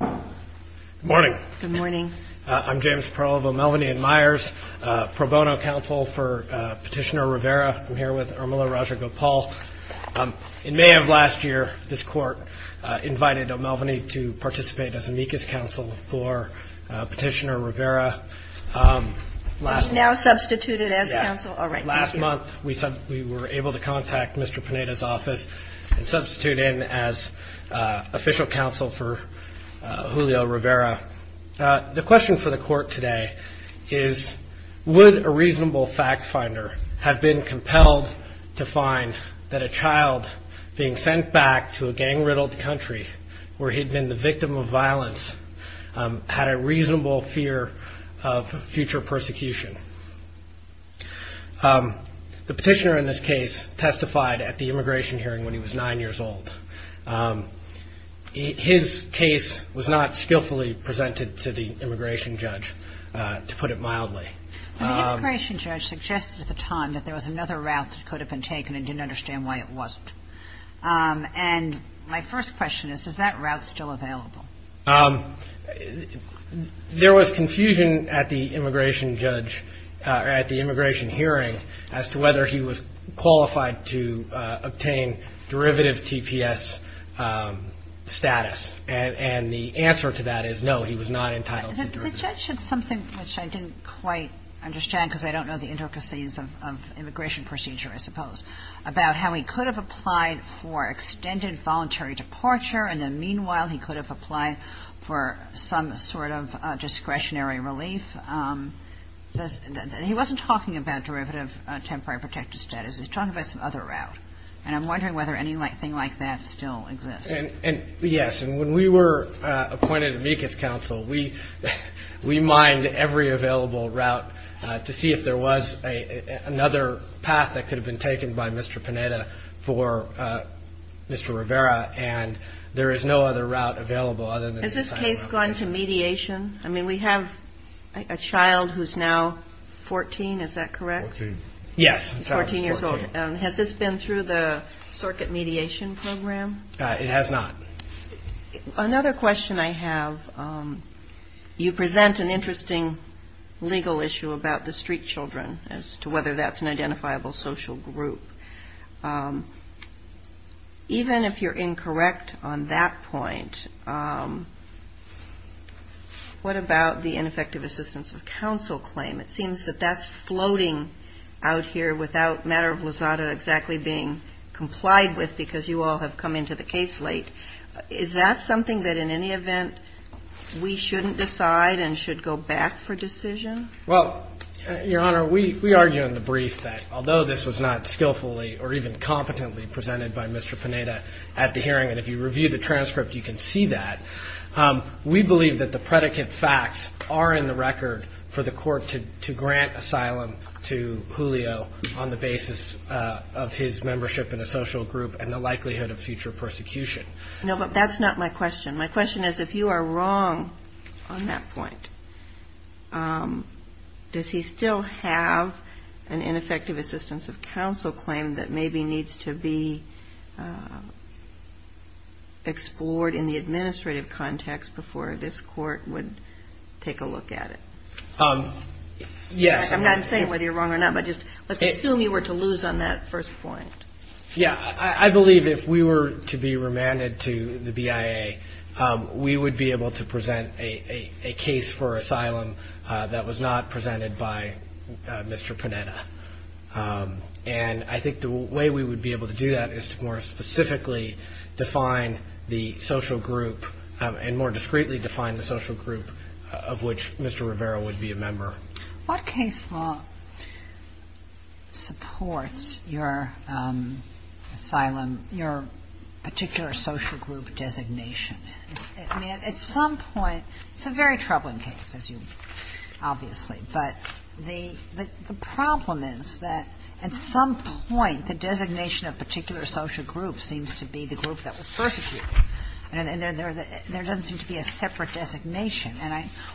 Good morning. I'm James Provo, Melvaney & Myers, pro bono counsel for Petitioner Rivera. I'm here with Irmila Rajagopal. In May of last year, this court invited Melvaney to participate as amicus counsel for Petitioner Rivera. He's now substituted as counsel? Last month, we were able to contact Mr. Pineda's office and substitute him as official counsel for Julio Rivera. The question for the court today is, would a reasonable fact finder have been compelled to find that a child being sent back to a gang-riddled country where he'd been the victim of violence, had a reasonable fear of future persecution? The petitioner in this case testified at the immigration hearing when he was nine years old. His case was not skillfully presented to the immigration judge, to put it mildly. The immigration judge suggested at the time that there was another route that could have been taken and didn't understand why it wasn't. And my first question is, is that route still available? There was confusion at the immigration judge, at the immigration hearing, as to whether he was qualified to obtain derivative TPS status. And the answer to that is, no, he was not entitled to derivative. The judge said something which I didn't quite understand, because I don't know the intricacies of immigration procedure, I suppose, about how he could have applied for extended voluntary departure, and then, meanwhile, he could have applied for some sort of discretionary relief. He wasn't talking about derivative temporary protective status. He was talking about some other route. And I'm wondering whether anything like that still exists. Yes. And when we were appointed amicus counsel, we mined every available route to see if there was another path that could have been taken by Mr. Panetta for Mr. Rivera. And there is no other route available other than this. Has this case gone to mediation? I mean, we have a child who's now 14. Is that correct? Yes. 14 years old. Has this been through the circuit mediation program? It has not. Another question I have, you present an interesting legal issue about the street children as to whether that's an identifiable social group. Even if you're incorrect on that point, what about the ineffective assistance of counsel claim? It seems that that's floating out here without matter of lazada exactly being complied with because you all have come into the case late. Is that something that in any event we shouldn't decide and should go back for decision? Well, Your Honor, we argue in the brief that although this was not skillfully or even competently presented by Mr. Panetta at the hearing, if you review the transcript, you can see that. We believe that the predicate facts are in the record for the court to grant asylum to Julio on the basis of his membership in a social group and the likelihood of future persecution. No, but that's not my question. My question is if you are wrong on that point, does he still have an ineffective assistance of counsel claim that maybe needs to be explored in the administrative context before this court would take a look at it? Yes. I'm not saying whether you're wrong or not, but just let's assume you were to lose on that first point. Yeah, I believe if we were to be remanded to the BIA, we would be able to present a case for asylum that was not presented by Mr. Panetta. And I think the way we would be able to do that is to more specifically define the social group and more discreetly define the social group of which Mr. Rivera would be a member. What case law supports your asylum, your particular social group designation? I mean, at some point – it's a very troubling case, as you – obviously. But the problem is that at some point the designation of a particular social group seems to be the group that was persecuted. And there doesn't seem to be a separate designation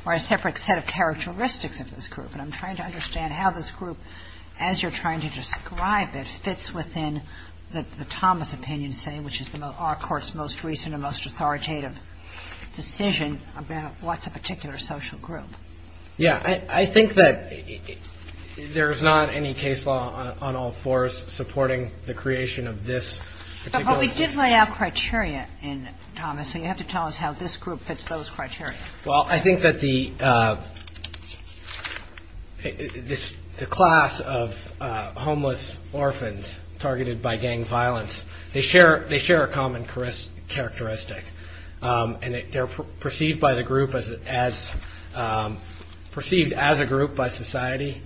or a separate set of characteristics of this group. And I'm trying to understand how this group, as you're trying to describe it, fits within the Thomas opinion, say, which is our Court's most recent and most authoritative decision about what's a particular social group. Yeah. I think that there's not any case law on all fours supporting the creation of this particular social group. But you lay out criteria in Thomas, and you have to tell us how this group fits those criteria. Well, I think that the class of homeless orphans targeted by gang violence, they share a common characteristic. And they're perceived by the group as – perceived as a group by society.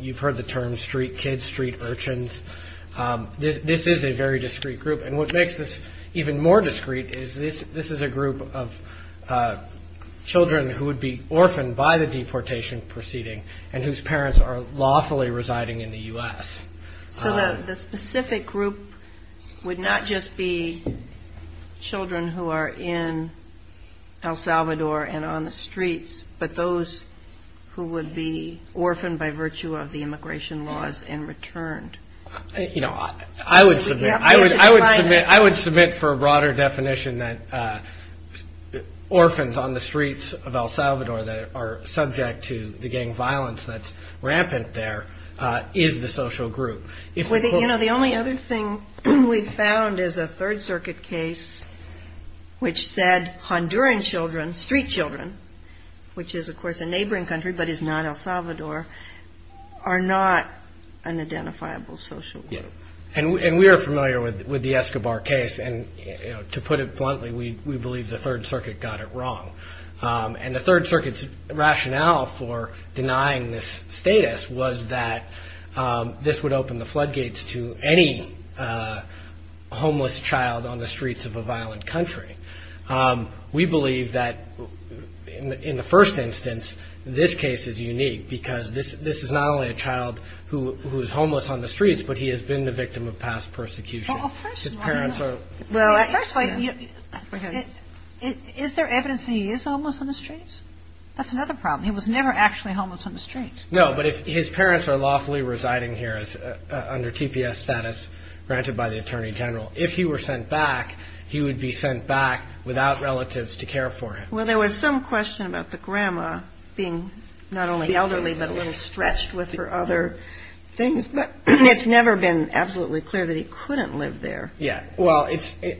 You've heard the term street kids, street urchins. This is a very discreet group. And what makes this even more discreet is this is a group of children who would be orphaned by the deportation proceeding and whose parents are lawfully residing in the U.S. So the specific group would not just be children who are in El Salvador and on the streets, but those who would be orphaned by virtue of the immigration laws and returned. I would submit for a broader definition that orphans on the streets of El Salvador that are subject to the gang violence that's rampant there is the social group. You know, the only other thing we've found is a Third Circuit case which said Honduran children, street children, which is, of course, a neighboring country but is not El Salvador, are not an identifiable social group. And we are familiar with the Escobar case. And to put it bluntly, we believe the Third Circuit got it wrong. And the Third Circuit's rationale for denying this status was that this would open the floodgates to any homeless child on the streets of a violent country. We believe that in the first instance, this case is unique because this is not only a child who is homeless on the streets, but he has been the victim of past persecution. His parents are – Well, first of all, is there evidence that he is homeless on the streets? That's another problem. He was never actually homeless on the streets. No, but his parents are lawfully residing here under TPS status granted by the Attorney General. If he were sent back, he would be sent back without relatives to care for him. Well, there was some question about the grandma being not only elderly but a little stretched with her other things. But it's never been absolutely clear that he couldn't live there. Yeah. Well,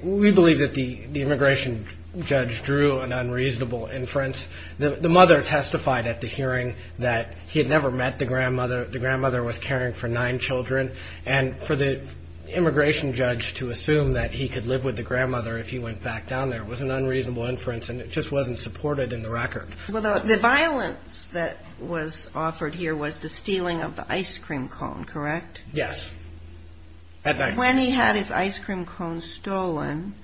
we believe that the immigration judge drew an unreasonable inference. The mother testified at the hearing that he had never met the grandmother. The grandmother was caring for nine children. And for the immigration judge to assume that he could live with the grandmother if he went back down there was an unreasonable inference. And it just wasn't supported in the record. Well, the violence that was offered here was the stealing of the ice cream cone, correct? Yes. When he had his ice cream cone stolen,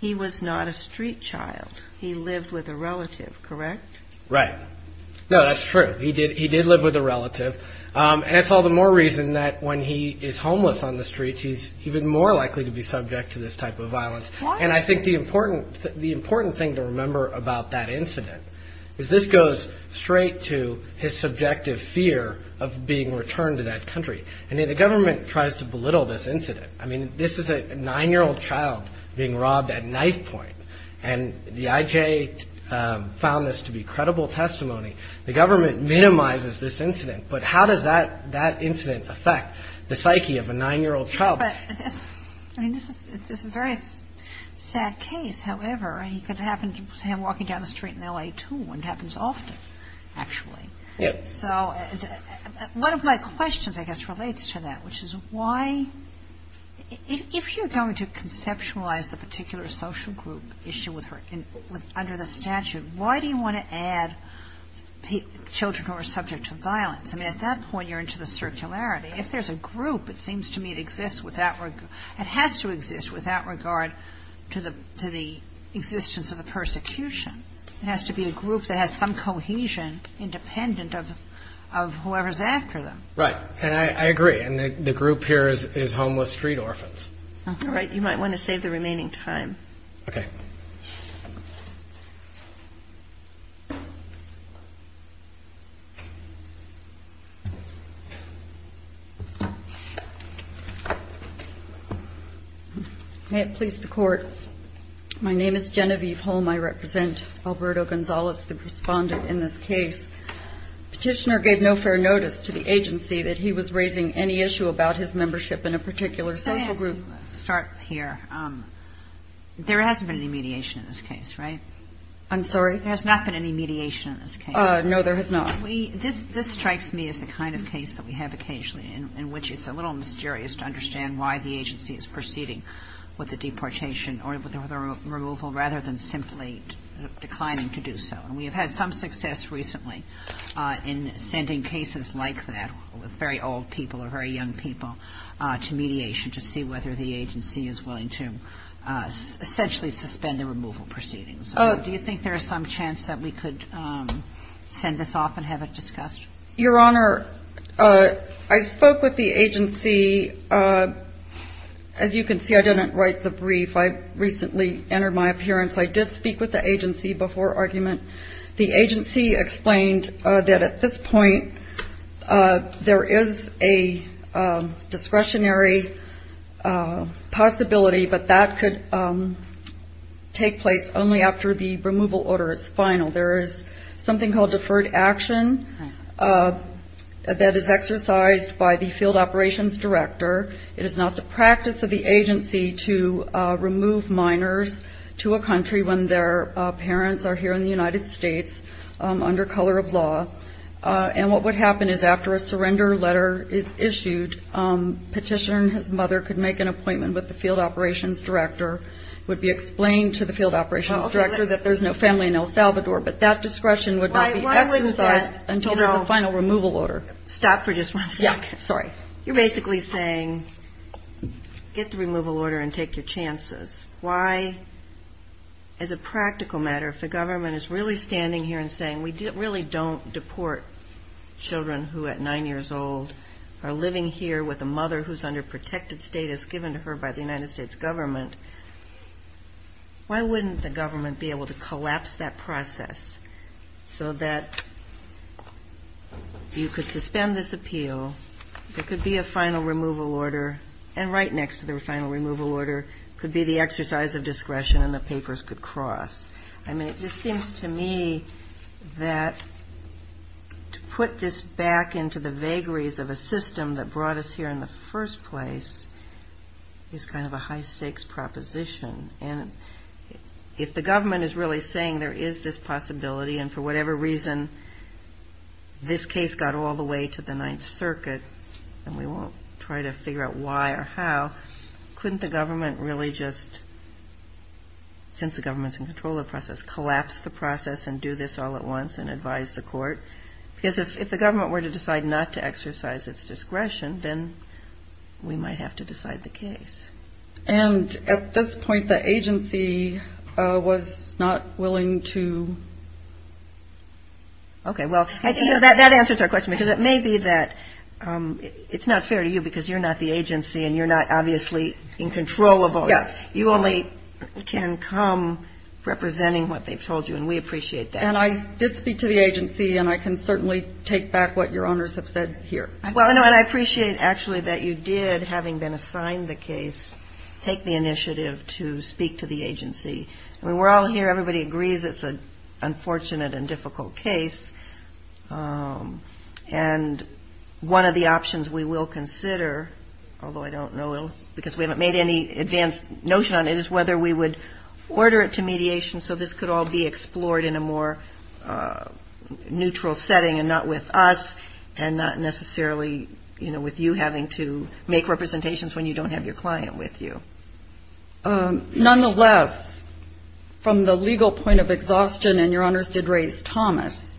he was not a street child. He lived with a relative, correct? Right. No, that's true. He did live with a relative. And it's all the more reason that when he is homeless on the streets, he's even more likely to be subject to this type of violence. And I think the important thing to remember about that incident is this goes straight to his subjective fear of being returned to that country. And the government tries to belittle this incident. I mean, this is a nine-year-old child being robbed at knife point. And the IJ found this to be credible testimony. The government minimizes this incident. But how does that incident affect the psyche of a nine-year-old child? I mean, this is a very sad case. However, it could happen to him walking down the street in L.A., too. It happens often, actually. So one of my questions, I guess, relates to that, which is why — if you're going to conceptualize the particular social group issue under the statute, why do you want to add children who are subject to violence? I mean, at that point, you're into the circularity. If there's a group, it seems to me it exists without — it has to exist without regard to the existence of the persecution. It has to be a group that has some cohesion independent of whoever's after them. Right. And I agree. And the group here is homeless street orphans. All right. You might want to save the remaining time. Okay. May it please the Court. My name is Genevieve Holm. I represent Alberto Gonzalez, the respondent in this case. Petitioner gave no fair notice to the agency that he was raising any issue about his membership in a particular social group. Let me start here. There hasn't been any mediation in this case, right? I'm sorry? There has not been any mediation in this case. No, there has not. This strikes me as the kind of case that we have occasionally in which it's a little mysterious to understand why the agency is proceeding with a deportation or with a removal rather than simply declining to do so. And we have had some success recently in sending cases like that with very old people or very young people to mediation to see whether the agency is willing to essentially suspend the removal proceedings. Do you think there is some chance that we could send this off and have it discussed? Your Honor, I spoke with the agency. As you can see, I didn't write the brief. I recently entered my appearance. I did speak with the agency before argument. The agency explained that at this point there is a discretionary possibility, but that could take place only after the removal order is final. There is something called deferred action that is exercised by the field operations director. It is not the practice of the agency to remove minors to a country when their parents are here in the United States under color of law. And what would happen is after a surrender letter is issued, petitioner and his mother could make an appointment with the field operations director. It would be explained to the field operations director that there's no family in El Salvador, but that discretion would not be exercised until there's a final removal order. Stop for just one second. Sorry. You're basically saying get the removal order and take your chances. Why, as a practical matter, if the government is really standing here and saying we really don't deport children who at 9 years old are living here with a mother who's under protected status given to her by the United States government, why wouldn't the government be able to collapse that process so that you could suspend this appeal, there could be a final removal order, and right next to the final removal order could be the exercise of discretion and the papers could cross? I mean, it just seems to me that to put this back into the vagaries of a system that brought us here in the first place is kind of a high-stakes proposition. And if the government is really saying there is this possibility and for whatever reason this case got all the way to the Ninth Circuit and we won't try to figure out why or how, couldn't the government really just, since the government's in control of the process, collapse the process and do this all at once and advise the court? Because if the government were to decide not to exercise its discretion, then we might have to decide the case. And at this point, the agency was not willing to... Okay. Well, that answers our question because it may be that it's not fair to you because you're not the agency and you're not obviously in control of all this. Yes. You only can come representing what they've told you, and we appreciate that. And I did speak to the agency, and I can certainly take back what your owners have said here. Well, no, and I appreciate actually that you did, having been assigned the case, take the initiative to speak to the agency. I mean, we're all here. Everybody agrees it's an unfortunate and difficult case. And one of the options we will consider, although I don't know, because we haven't made any advanced notion on it, is whether we would order it to mediation so this could all be explored in a more neutral setting and not with us and not necessarily, you know, with you having to make representations when you don't have your client with you. Nonetheless, from the legal point of exhaustion, and your owners did raise Thomas,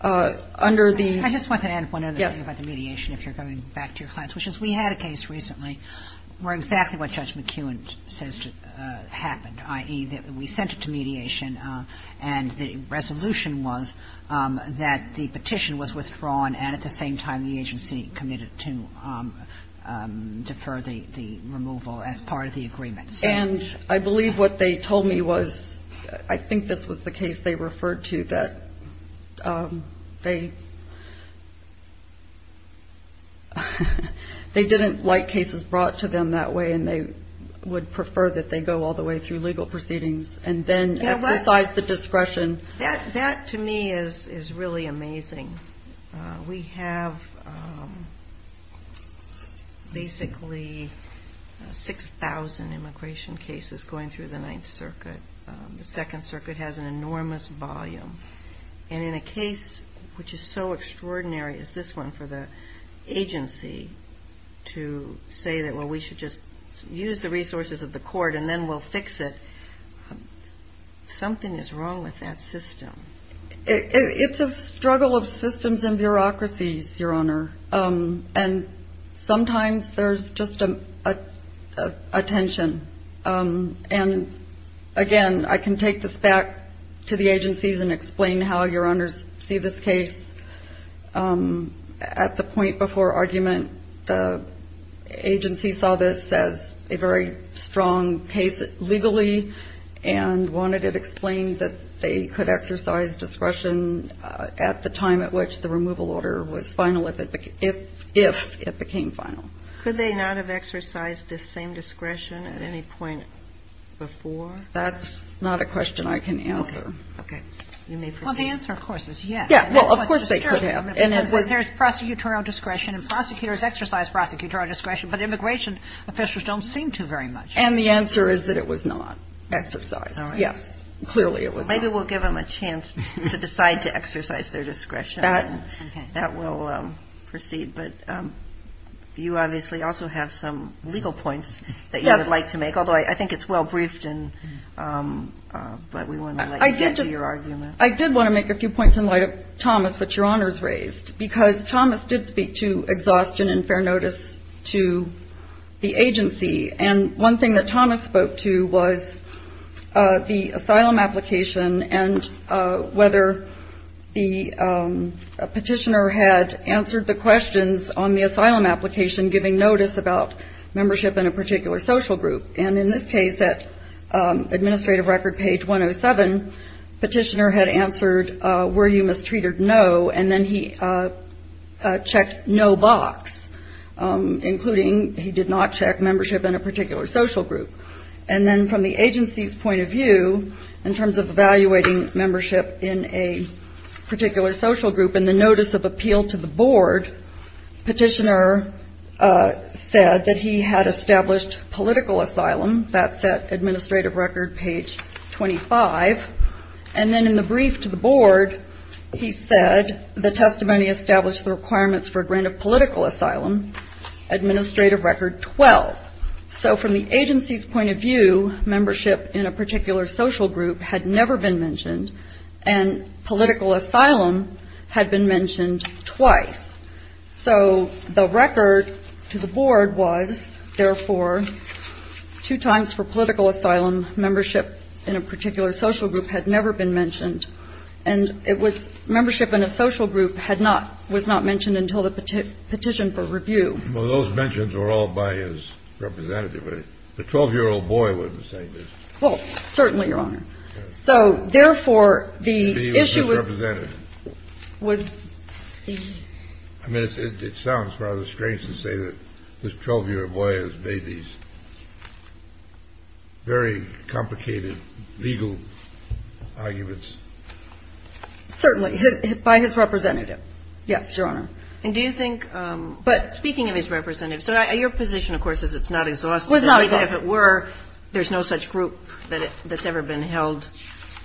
under the... I just want to add one other thing about the mediation, if you're going back to your clients, which is we had a case recently where exactly what Judge McEwen says happened, i.e., that we sent it to mediation, and the resolution was that the petition was withdrawn and at the same time the agency committed to defer the removal as part of the agreement. And I believe what they told me was, I think this was the case they referred to, that they didn't like cases brought to them that way and they would prefer that they go all the way through legal proceedings and then... That, to me, is really amazing. We have basically 6,000 immigration cases going through the Ninth Circuit. The Second Circuit has an enormous volume. And in a case which is so extraordinary as this one for the agency to say that, well, we should just use the resources of the court and then we'll fix it, something is wrong with that system. It's a struggle of systems and bureaucracies, Your Honor. And sometimes there's just a tension. And, again, I can take this back to the agencies and explain how Your Honors see this case. At the point before argument, the agency saw this as a very strong case legally and wanted it explained that they could exercise discretion at the time at which the removal order was final, if it became final. Could they not have exercised this same discretion at any point before? That's not a question I can answer. You may proceed. Well, the answer, of course, is yes. Well, of course they could have. There's prosecutorial discretion and prosecutors exercise prosecutorial discretion, but immigration officials don't seem to very much. And the answer is that it was not exercised. Yes. Clearly it was not. Maybe we'll give them a chance to decide to exercise their discretion. That will proceed. But you obviously also have some legal points that you would like to make, although I think it's well briefed, but we want to let you get to your argument. I did want to make a few points in light of Thomas, which Your Honors raised, because Thomas did speak to exhaustion and fair notice to the agency. And one thing that Thomas spoke to was the asylum application and whether the petitioner had answered the questions on the asylum application, giving notice about membership in a particular social group. And in this case, at administrative record page 107, petitioner had answered, were you mistreated? No. And then he checked no box, including he did not check membership in a particular social group. And then from the agency's point of view, in terms of evaluating membership in a particular social group and the notice of appeal to the board, petitioner said that he had established political asylum. That's at administrative record page 25. And then in the brief to the board, he said the testimony established the requirements for a grant of political asylum. Administrative record 12. So from the agency's point of view, membership in a particular social group had never been mentioned and political asylum had been mentioned twice. So the record to the board was, therefore, two times for political asylum. Membership in a particular social group had never been mentioned. And it was membership in a social group had not was not mentioned until the petition for review. Well, those mentions were all by his representative. The 12-year-old boy wouldn't say this. Well, certainly, Your Honor. So, therefore, the issue was. I mean, it sounds rather strange to say that this 12-year-old boy has made these very complicated legal arguments. Certainly. By his representative. Yes, Your Honor. And do you think, but speaking of his representative, so your position, of course, is it's not exhaustive. It was not exhaustive. But if it were, there's no such group that's ever been held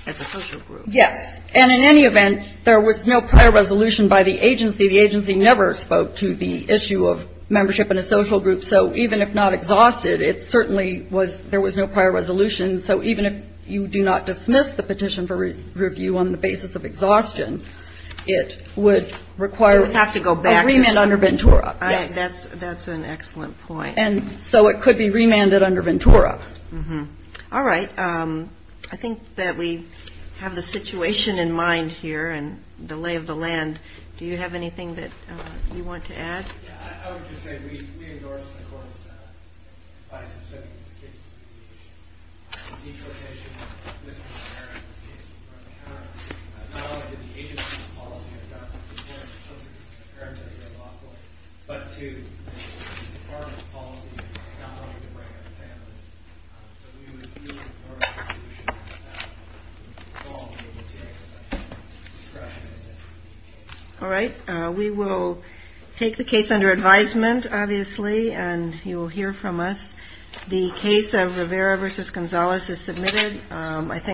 as a social group. Yes. And in any event, there was no prior resolution by the agency. The agency never spoke to the issue of membership in a social group. So even if not exhausted, it certainly was, there was no prior resolution. So even if you do not dismiss the petition for review on the basis of exhaustion, it would require. It would have to go back. A remand under Ventura. That's an excellent point. And so it could be remanded under Ventura. All right. I think that we have the situation in mind here and the lay of the land. Do you have anything that you want to add? I would just say we endorse the court's advice in setting this case. All right. We will take the case under advisement, obviously. And you will hear from us. The case of Rivera v. Gonzales is submitted.